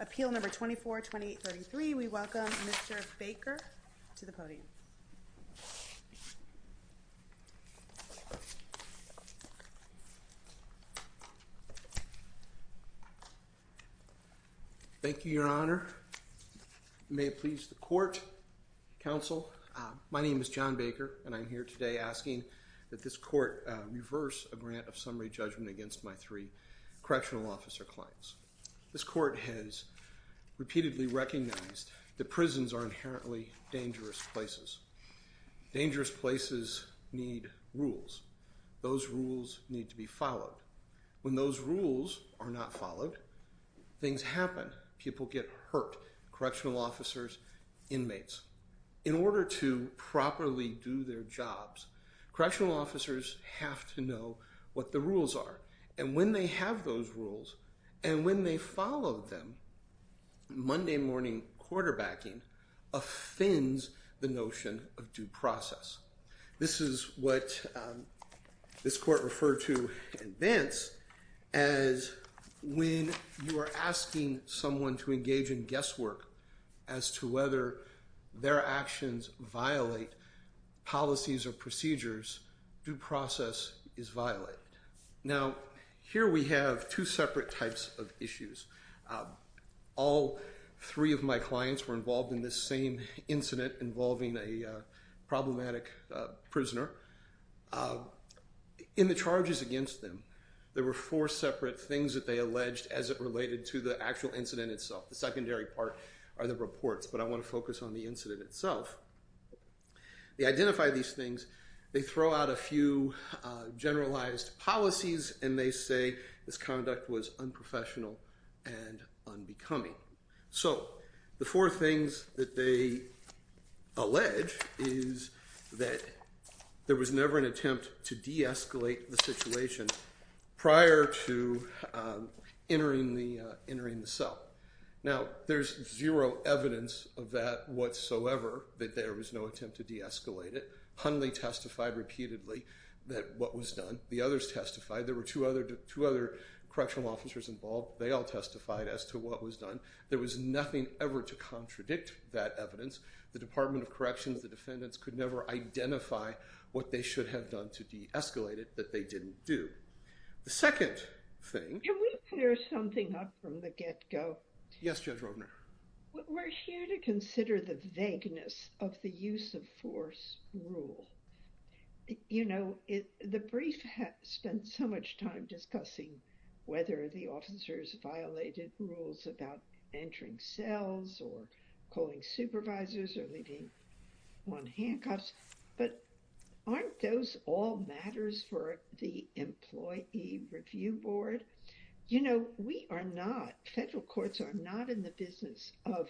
Appeal number 24-2033. We welcome Mr. Baker to the podium. Thank you, Your Honor. May it please the court, counsel. My name is John Baker and I'm here today asking that this court reverse a grant of summary judgment against my three correctional officer clients. This court has repeatedly recognized that prisons are inherently dangerous places. Dangerous places need rules. Those rules need to be followed. When those rules are not followed, things happen. People get hurt. Correctional officers, inmates. In order to properly do their jobs, correctional officers have to know what the rules are. And when they have those rules, and when they follow them, Monday morning quarterbacking offends the notion of due process. This is what this court referred to in advance as when you are asking someone to engage in guesswork as to whether their actions violate policies or procedures, due process is violated. Now here we have two separate types of issues. All three of my clients were involved in this same incident involving a problematic prisoner. In the charges against them, there were four separate things that they alleged as it related to the actual incident itself. The secondary part are the reports, but I want to focus on the incident itself. They identify these things, they throw out a few generalized policies, and they say this conduct was unprofessional and unbecoming. So the four things that they allege is that there was never an attempt to de-escalate the situation prior to entering the cell. Now there's zero evidence of that whatsoever that there was no attempt to de-escalate it. Hundley testified repeatedly that what was done. The others testified. There were two other correctional officers involved. They all testified as to what was done. There was nothing ever to contradict that evidence. The Department of Corrections, the defendants could never identify what they should have done to de-escalate it that they didn't do. The second thing... Can we clear something up from the get-go? Yes, Judge Rodner. We're here to consider the vagueness of the use-of-force rule. You know, the brief spent so much time discussing whether the officers violated rules about entering cells or calling supervisors or leaving one handcuffs, but aren't those all matters for the Employee Review Board? You know, we are not, federal courts are not in the business of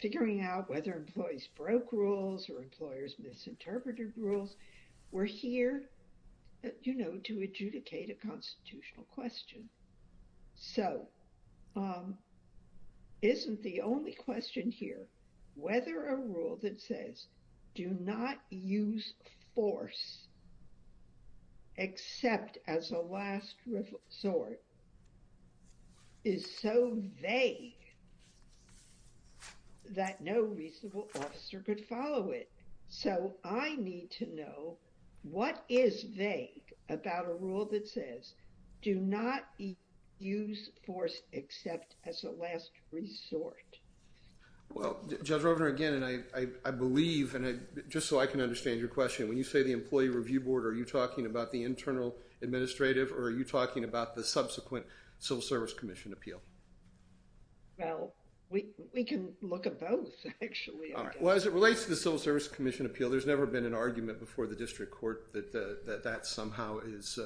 figuring out whether employees broke rules or employers misinterpreted rules. We're here, you know, to adjudicate a constitutional question. So isn't the only question here whether a rule that says do not use force except as a last resort is so vague that no reasonable officer could follow it. So I need to know what is vague about a rule that says do not use force except as a last resort. Well, Judge Rodner, again, and I believe, and just so I can understand your question, when you say the Employee Review Board, are you talking about the internal administrative or are you talking about the subsequent Civil Service Commission appeal? Well, we can look at both, actually. Well, as it relates to the Civil Service Commission appeal, there's never been an argument before the district court that that somehow is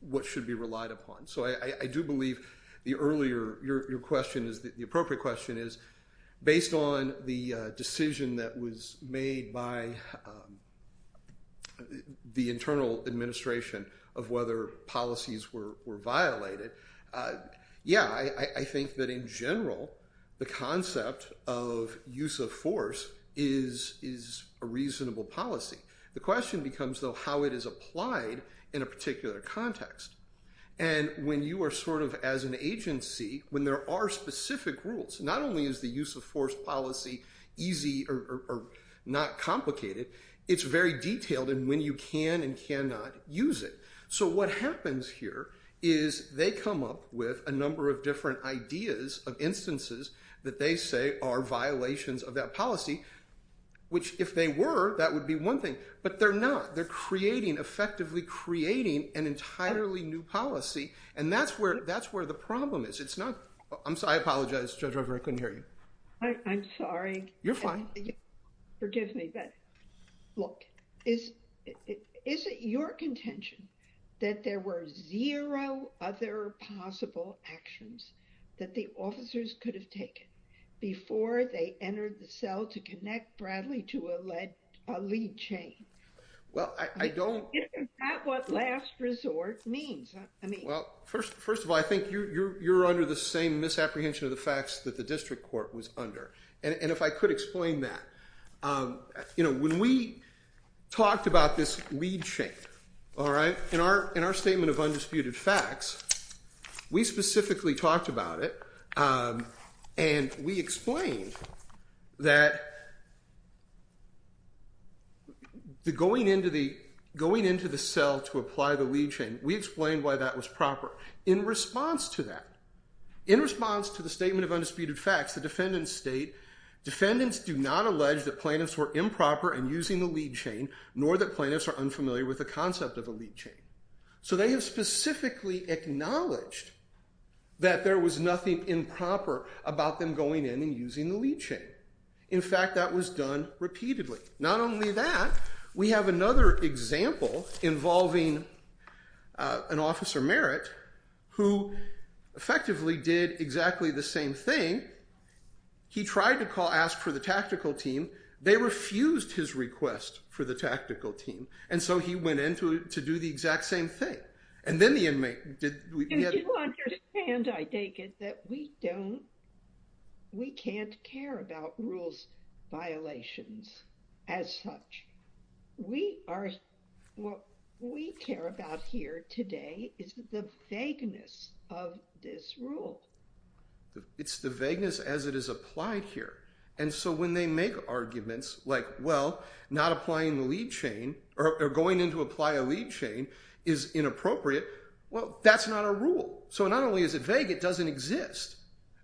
what should be relied upon. So I do believe the earlier, your question is, the appropriate question is, based on the decision that was made by the internal administration of whether policies were violated, yeah, I think that in general, the concept of use of force is a reasonable policy. The question becomes, though, how it is applied in a particular context. And when you are sort of as an agency, when there are specific rules, not only is the use of force policy easy or not complicated, it's very detailed in when you can and cannot use it. So what happens here is they come up with a number of different ideas of instances that they say are violations of that policy, which if they were, that would be one thing, but they're not. They're creating, effectively creating an entirely new policy, and that's where the problem is. It's not, I apologize, Judge Rodner, I couldn't hear you. I'm sorry. You're fine. Forgive me, but look, is it your contention that there were zero other possible actions that the officers could have taken before they entered the cell to connect Bradley to a lead chain? Well, I don't... Isn't that what last resort means? I mean... Well, first of all, I think you're under the same misapprehension of the district court was under, and if I could explain that. You know, when we talked about this lead chain, all right, in our statement of undisputed facts, we specifically talked about it, and we explained that the going into the going into the cell to apply the lead chain, we explained why that was proper. In response to that, in response to the statement of undisputed facts, the defendants state, defendants do not allege that plaintiffs were improper in using the lead chain, nor that plaintiffs are unfamiliar with the concept of a lead chain. So they have specifically acknowledged that there was nothing improper about them going in and using the lead chain. In fact, that was done repeatedly. Not only that, we have another example involving an officer Merritt, who effectively did exactly the same thing. He tried to call, ask for the tactical team. They refused his request for the tactical team, and so he went in to do the exact same thing, and then the inmate did... You do understand, I take it, that we don't... We can't care about rules violations as such. We are... What we care about here today is the vagueness of this rule. It's the vagueness as it is applied here, and so when they make arguments like, well, not applying the lead chain, or going in to apply a lead chain is inappropriate, well, that's not a rule. So not only is it vague, it doesn't exist.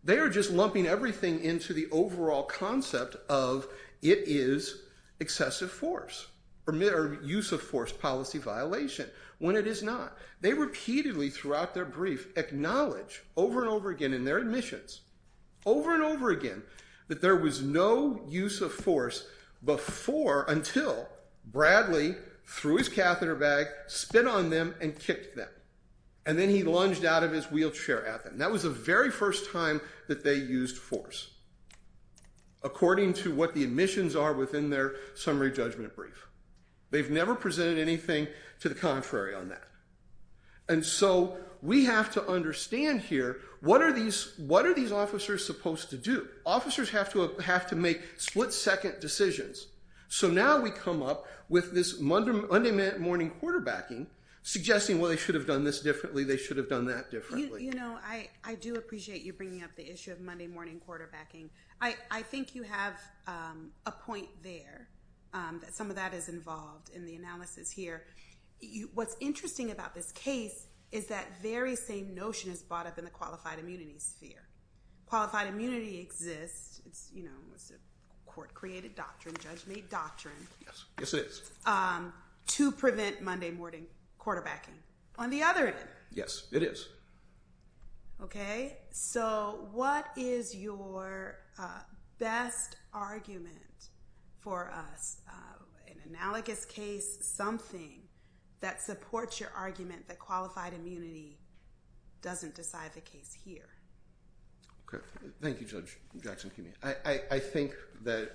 They are just lumping everything into the overall concept of, it is excessive force, or use of force policy violation, when it is not. They repeatedly, throughout their brief, acknowledge over and over again in their admissions, over and over again, that there was no use of force before, until Bradley threw his catheter bag, spit on them, and kicked them, and then he lunged out of his wheelchair at them. That was the very first time that they used force. According to what the admissions are within their summary judgment brief. They've never presented anything to the contrary on that. And so we have to understand here, what are these officers supposed to do? Officers have to have to make split-second decisions. So now we come up with this Monday morning quarterbacking, suggesting, well, they should have done this differently, they should have done that differently. You know, I do appreciate you bringing up the issue of Monday morning quarterbacking. I think you have a point there, that some of that is involved in the analysis here. What's interesting about this case, is that very same notion is brought up in the qualified immunity sphere. Qualified immunity exists, it's, you know, it's a court-created doctrine, judge-made doctrine, to prevent Monday morning quarterbacking. On the other end, yes, it is. Okay. So what is your best argument for us? An analogous case, something that supports your argument that qualified immunity doesn't decide the case here. Okay. Thank you, Judge Jackson-Kuhnmeyer. I think that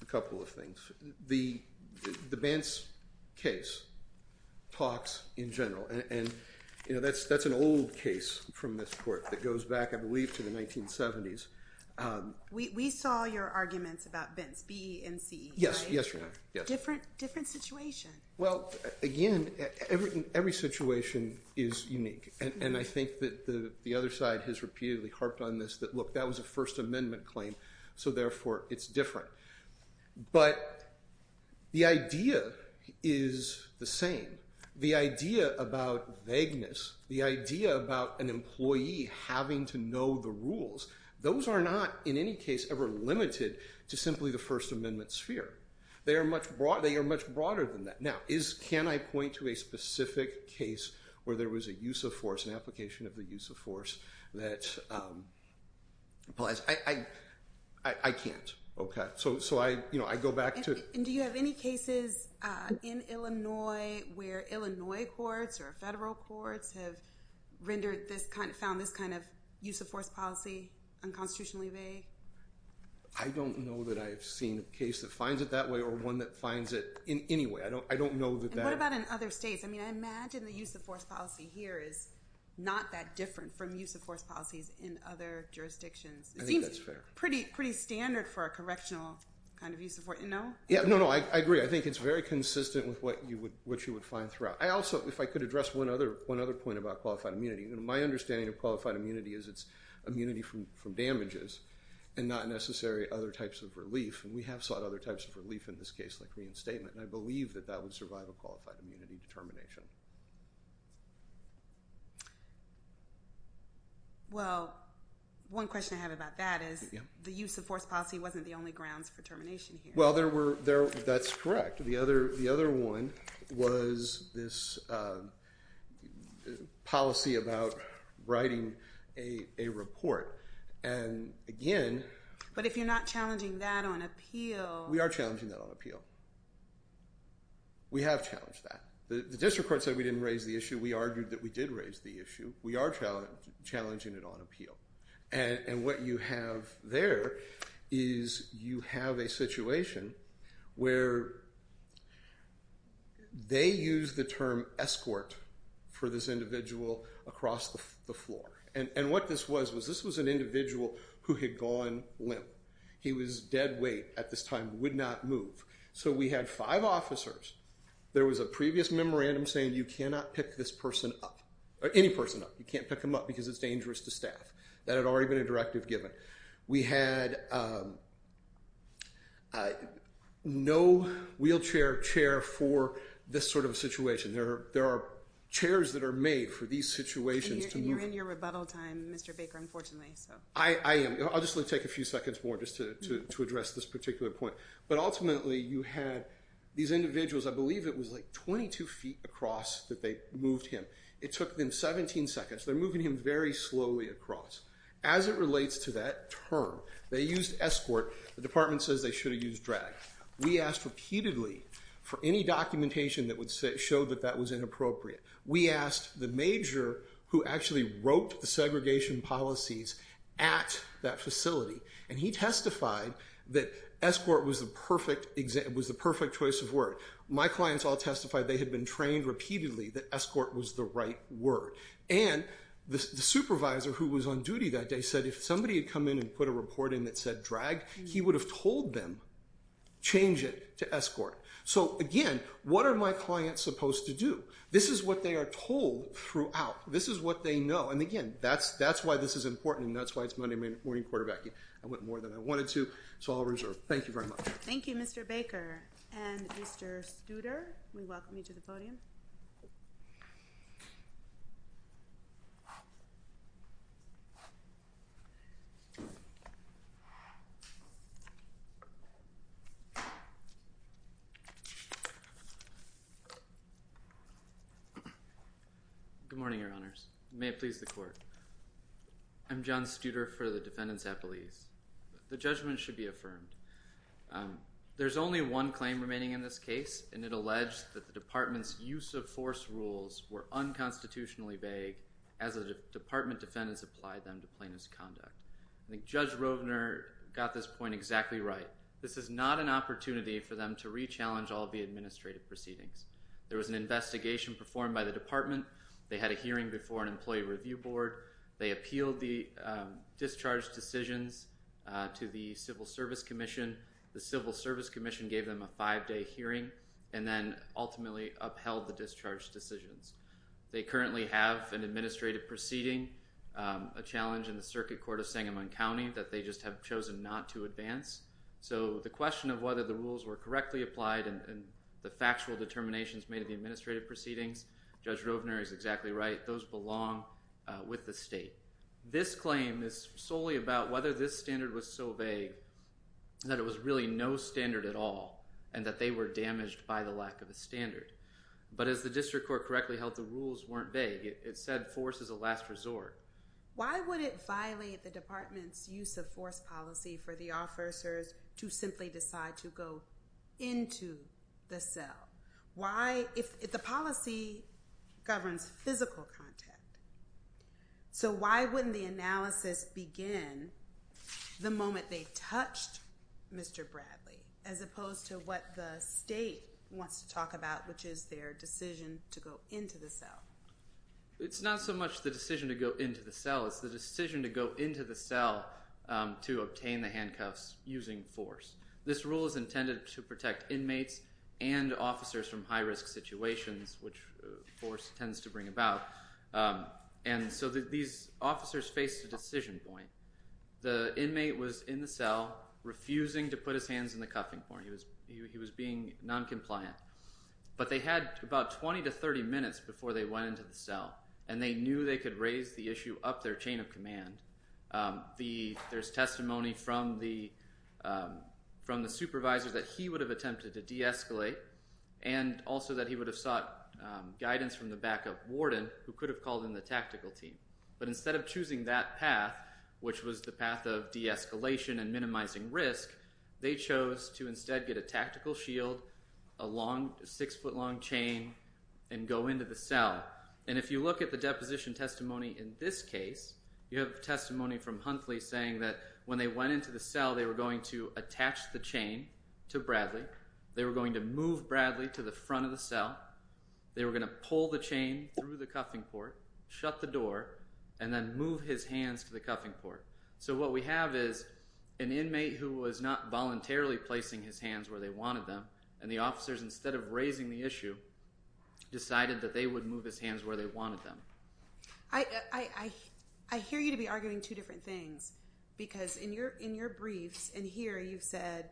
a couple of the Bents case talks in general, and that's an old case from this court that goes back, I believe, to the 1970s. We saw your arguments about Bents, B-E-N-C-E, right? Yes, yes, Your Honor. Different situation. Well, again, every situation is unique, and I think that the other side has repeatedly harped on this, that, look, that was a First Amendment claim, so therefore, it's different. But the idea is the same. The idea about vagueness, the idea about an employee having to know the rules, those are not, in any case, ever limited to simply the First Amendment sphere. They are much broader than that. Now, can I point to a specific case where there was a use of force, an application of the force? I can't. Okay. So I go back to... And do you have any cases in Illinois where Illinois courts or federal courts have rendered this kind of... Found this kind of use of force policy unconstitutionally vague? I don't know that I've seen a case that finds it that way or one that finds it in any way. I don't know that that... And what about in other states? I mean, I imagine the use of force policy here is not that different from use of force policies in other jurisdictions. I think that's fair. It seems pretty standard for a correctional kind of use of force. No? Yeah, no, no, I agree. I think it's very consistent with what you would find throughout. I also, if I could address one other point about qualified immunity, my understanding of qualified immunity is it's immunity from damages and not necessary other types of relief, and we have sought other types of relief in this case, like reinstatement, and I believe that that would survive a qualified immunity determination. Well, one question I have about that is the use of force policy wasn't the only grounds for termination here. Well, there were... That's correct. The other one was this policy about writing a report, and again... But if you're not challenging that on appeal... We are challenging that on appeal. We have challenged that. The district court said we didn't raise the issue. We argued that we did raise the issue. We are challenging it on appeal, and what you have there is you have a situation where they use the term escort for this individual across the floor, and what this was was this was an individual who had gone limp. He was dead weight at this time, would not move. So we had five officers. There was a previous memorandum saying, you cannot pick this person up, or any person up. You can't pick them up because it's dangerous to staff. That had already been a directive given. We had no wheelchair chair for this sort of a situation. There are chairs that are made for these situations to move... And you're in your rebuttal time, Mr. Baker, unfortunately, so... I am. I'll just take a few seconds more to address this particular point. But ultimately, you had these individuals, I believe it was like 22 feet across that they moved him. It took them 17 seconds. They're moving him very slowly across. As it relates to that term, they used escort. The department says they should have used drag. We asked repeatedly for any documentation that would show that that was inappropriate. We asked the major who actually wrote the segregation policies at that facility, and he testified that escort was the perfect choice of word. My clients all testified they had been trained repeatedly that escort was the right word. And the supervisor who was on duty that day said, if somebody had come in and put a report in that said drag, he would have told them, change it to escort. So again, what are my clients supposed to do? This is what they are told throughout. This is what they know. And again, that's why this is important, and that's why it's Monday morning quarterbacking. I went more than I wanted to, so I'll reserve. Thank you very much. Thank you, Mr. Baker. And Mr. Studer, we welcome you to the podium. Good morning, Your Honors. May it please the Court. I'm John Studer for the Defendant's Appellees. The judgment should be affirmed. There's only one claim remaining in this case, and it alleged that the Department's use of force rules were unconstitutionally vague as the Department defendants applied them to plaintiff's conduct. I think Judge Rovner got this point exactly right. This is not an opportunity for them to re-challenge all the administrative proceedings. There was an investigation performed by the Department. They had a hearing before an employee review board. They appealed the discharge decisions to the Civil Service Commission. The Civil Service Commission gave them a five-day hearing, and then ultimately upheld the discharge decisions. They currently have an administrative proceeding, a challenge in the Circuit Court of Sangamon County that they just have chosen not to advance. So the question of whether the rules were correctly applied and the factual determinations made in the administrative proceedings, Judge Rovner is exactly right. Those belong with the state. This claim is solely about whether this standard was so vague that there was really no standard at all and that they were damaged by the lack of a standard. But as the District Court correctly held, the rules weren't vague. It said force is a last resort. Why would it violate the Department's use of force policy for the officers to simply decide to go into the cell? The policy governs physical contact. So why wouldn't the analysis begin the moment they touched Mr. Bradley, as opposed to what the state wants to talk about, which is their decision to go into the cell? It's not so much the decision to go into the cell. It's the decision to go into the cell to obtain the handcuffs using force. This rule is intended to protect inmates and officers from high-risk situations, which force tends to bring about. So these officers faced a decision point. The inmate was in the cell, refusing to put his hands in the cuffing point. He was being noncompliant. But they had about 20 to 30 minutes before they went into the cell, and they knew they could raise the issue up their chain of command. There's testimony from the supervisor that he would have attempted to de-escalate, and also that he would have sought guidance from the backup warden, who could have called in the tactical team. But instead of choosing that path, which was the path of de-escalation and minimizing risk, they chose to instead get a tactical shield, a six-foot-long chain, and go into the cell. And if you look at the deposition testimony in this case, you have testimony from Huntley saying that when they went into the cell, they were going to attach the chain to Bradley. They were going to move Bradley to the front of the cell. They were going to pull the chain through the cuffing port, shut the door, and then move his hands to the cuffing port. So what we have is an inmate who was not voluntarily placing his hands where they wanted them, and the officers, instead of raising the issue, decided that they would move his hands where they wanted them. I hear you to be arguing two different things, because in your briefs, and here you've said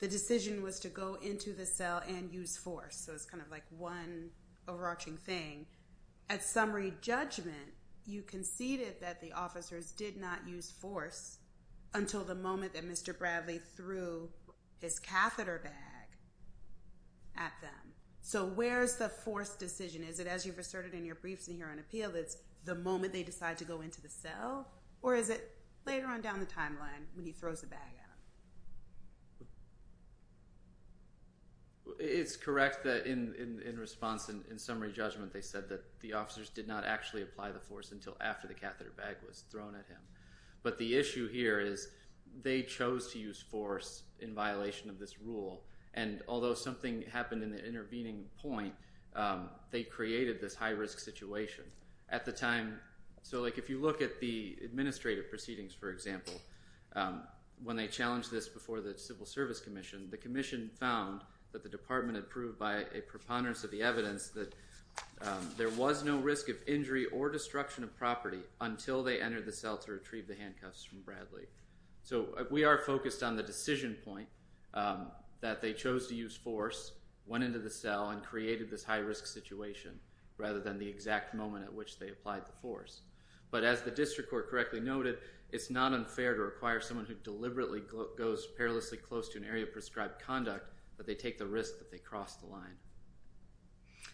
the decision was to go into the cell and use force. So it's kind of like one overarching thing. At summary judgment, you conceded that the officers did not use force until the moment that Mr. Bradley threw his catheter bag at them. So where's the force decision? Is it as you've revealed, it's the moment they decide to go into the cell, or is it later on down the timeline when he throws the bag at them? It's correct that in response, in summary judgment, they said that the officers did not actually apply the force until after the catheter bag was thrown at him. But the issue here is they chose to use force in violation of this rule, and although something happened in the intervening point, they created this high-risk situation. So if you look at the administrative proceedings, for example, when they challenged this before the Civil Service Commission, the commission found that the department had proved by a preponderance of the evidence that there was no risk of injury or destruction of property until they entered the cell to retrieve the handcuffs from Bradley. So we are focused on the decision point, that they chose to use force, went into the cell, and created this high-risk situation rather than the exact moment at which they applied the force. But as the district court correctly noted, it's not unfair to require someone who deliberately goes perilously close to an area of prescribed conduct that they take the risk that they cross the line.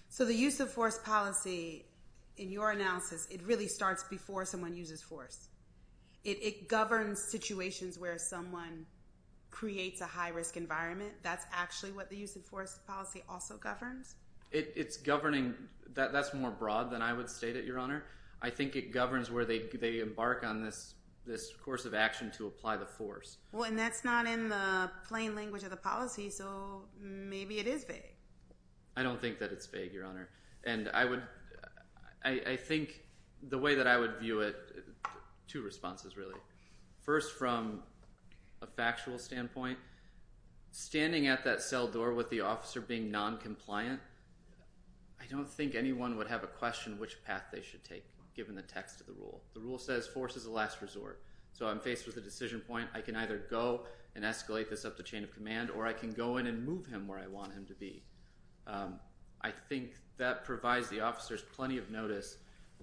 So the use of force policy, in your analysis, it really starts before someone uses force. It governs situations where someone creates a high-risk environment. That's actually what the use of force policy also governs? That's more broad than I would state it, Your Honor. I think it governs where they embark on this course of action to apply the force. Well, and that's not in the plain language of the policy, so maybe it is vague. I don't think that it's vague, Your Honor. And I think the way that I would view it, two responses, really. First, from a factual standpoint, standing at that cell door with the officer being noncompliant, I don't think anyone would have a question which path they should take, given the text of the rule. The rule says force is a last resort. So I'm faced with a decision point. I can either go and escalate this up the chain of command, or I can go in and move him where I want him to be. I think that provides the officers plenty of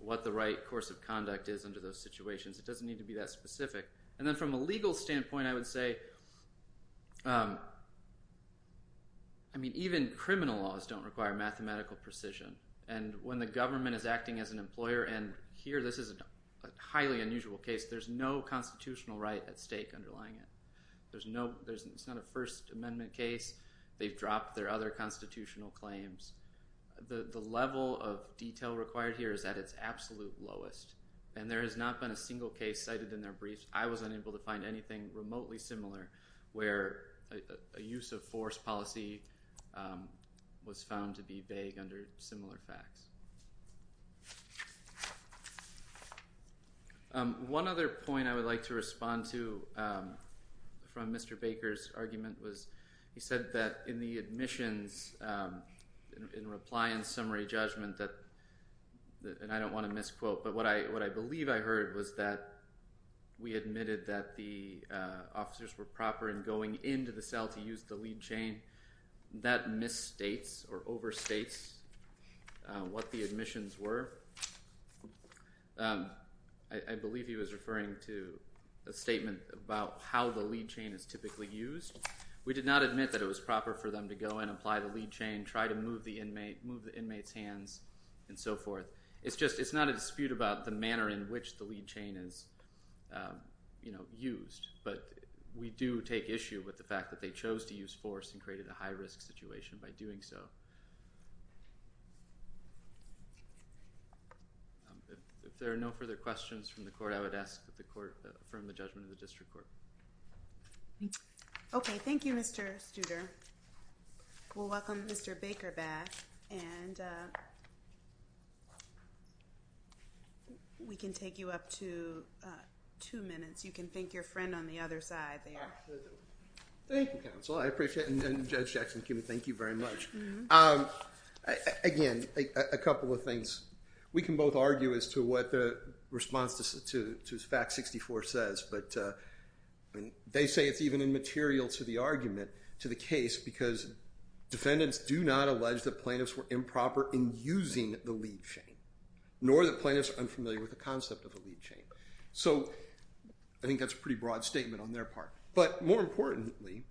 what the right course of conduct is under those situations. It doesn't need to be that specific. And then from a legal standpoint, I would say, I mean, even criminal laws don't require mathematical precision. And when the government is acting as an employer, and here this is a highly unusual case, there's no constitutional right at stake underlying it. It's not a First Amendment case. They've dropped their other constitutional claims. The level of detail required here is at its absolute lowest. And there has not been a single case cited in their briefs. I was unable to find anything remotely similar, where a use of force policy was found to be vague under similar facts. One other point I would like to respond to from Mr. Baker's argument was, he said that in the admissions, in reply and summary judgment that, and I don't want to misquote, but what I believe I heard was that we admitted that the officers were proper in going into the cell to use the lead chain. That misstates or overstates what the admissions were. I believe he was We did not admit that it was proper for them to go and apply the lead chain, try to move the inmate's hands, and so forth. It's just, it's not a dispute about the manner in which the lead chain is used. But we do take issue with the fact that they chose to use force and created a high risk situation by doing so. If there are no further questions from the court, I would ask that the court affirm the judgment of the district court. Okay. Thank you, Mr. Studer. We'll welcome Mr. Baker back, and we can take you up to two minutes. You can thank your friend on the other side there. Thank you, counsel. I appreciate it. And Judge Jackson-Kimme, thank you very much. Again, a couple of things. We can both argue as to what the response to Fact 64 says, but they say it's even immaterial to the argument, to the case, because defendants do not allege that plaintiffs were improper in using the lead chain, nor that plaintiffs are unfamiliar with the concept of a lead chain. So I think that's a pretty broad statement on their part. But more importantly,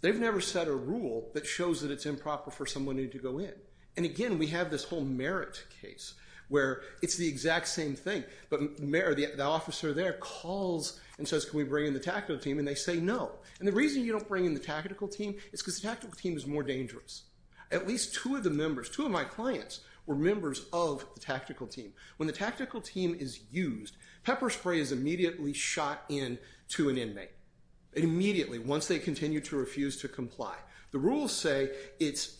they've never set a rule that shows that it's improper for someone to go in. And again, we have this whole Merritt case, where it's the same thing, but the officer there calls and says, can we bring in the tactical team? And they say no. And the reason you don't bring in the tactical team is because the tactical team is more dangerous. At least two of the members, two of my clients, were members of the tactical team. When the tactical team is used, pepper spray is immediately shot into an inmate, immediately, once they continue to refuse to comply. The rules say it's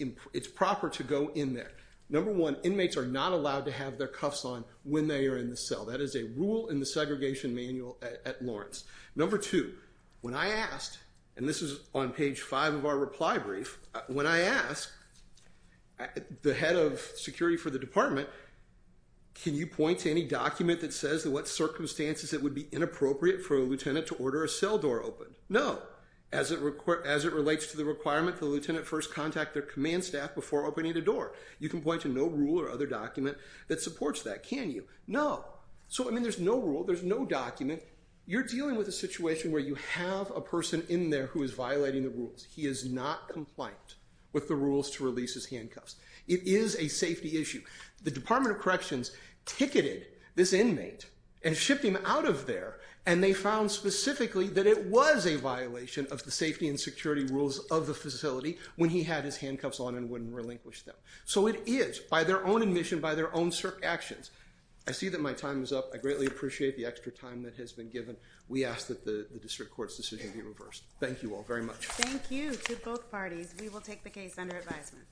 proper to go in there. Number one, inmates are not allowed to have their cuffs on when they are in the cell. That is a rule in the segregation manual at Lawrence. Number two, when I asked, and this is on page five of our reply brief, when I asked, the head of security for the department, can you point to any document that says what circumstances it would be inappropriate for a lieutenant to order a cell door open? No. As it relates to the requirement, the lieutenant first contact their command staff before opening the door. You can point to no rule or other document that supports that, can you? No. So, I mean, there's no rule, there's no document. You're dealing with a situation where you have a person in there who is violating the rules. He is not compliant with the rules to release his handcuffs. It is a safety issue. The Department of Corrections ticketed this inmate and shipped him out of there, and they found specifically that it was a violation of the safety and security rules of the facility when he had his handcuffs on and wouldn't relinquish them. So it is, by their own admission, by their own actions, I see that my time is up. I greatly appreciate the extra time that has been given. We ask that the district court's decision be reversed. Thank you all very much. Thank you to both parties. We will take the case under advisement.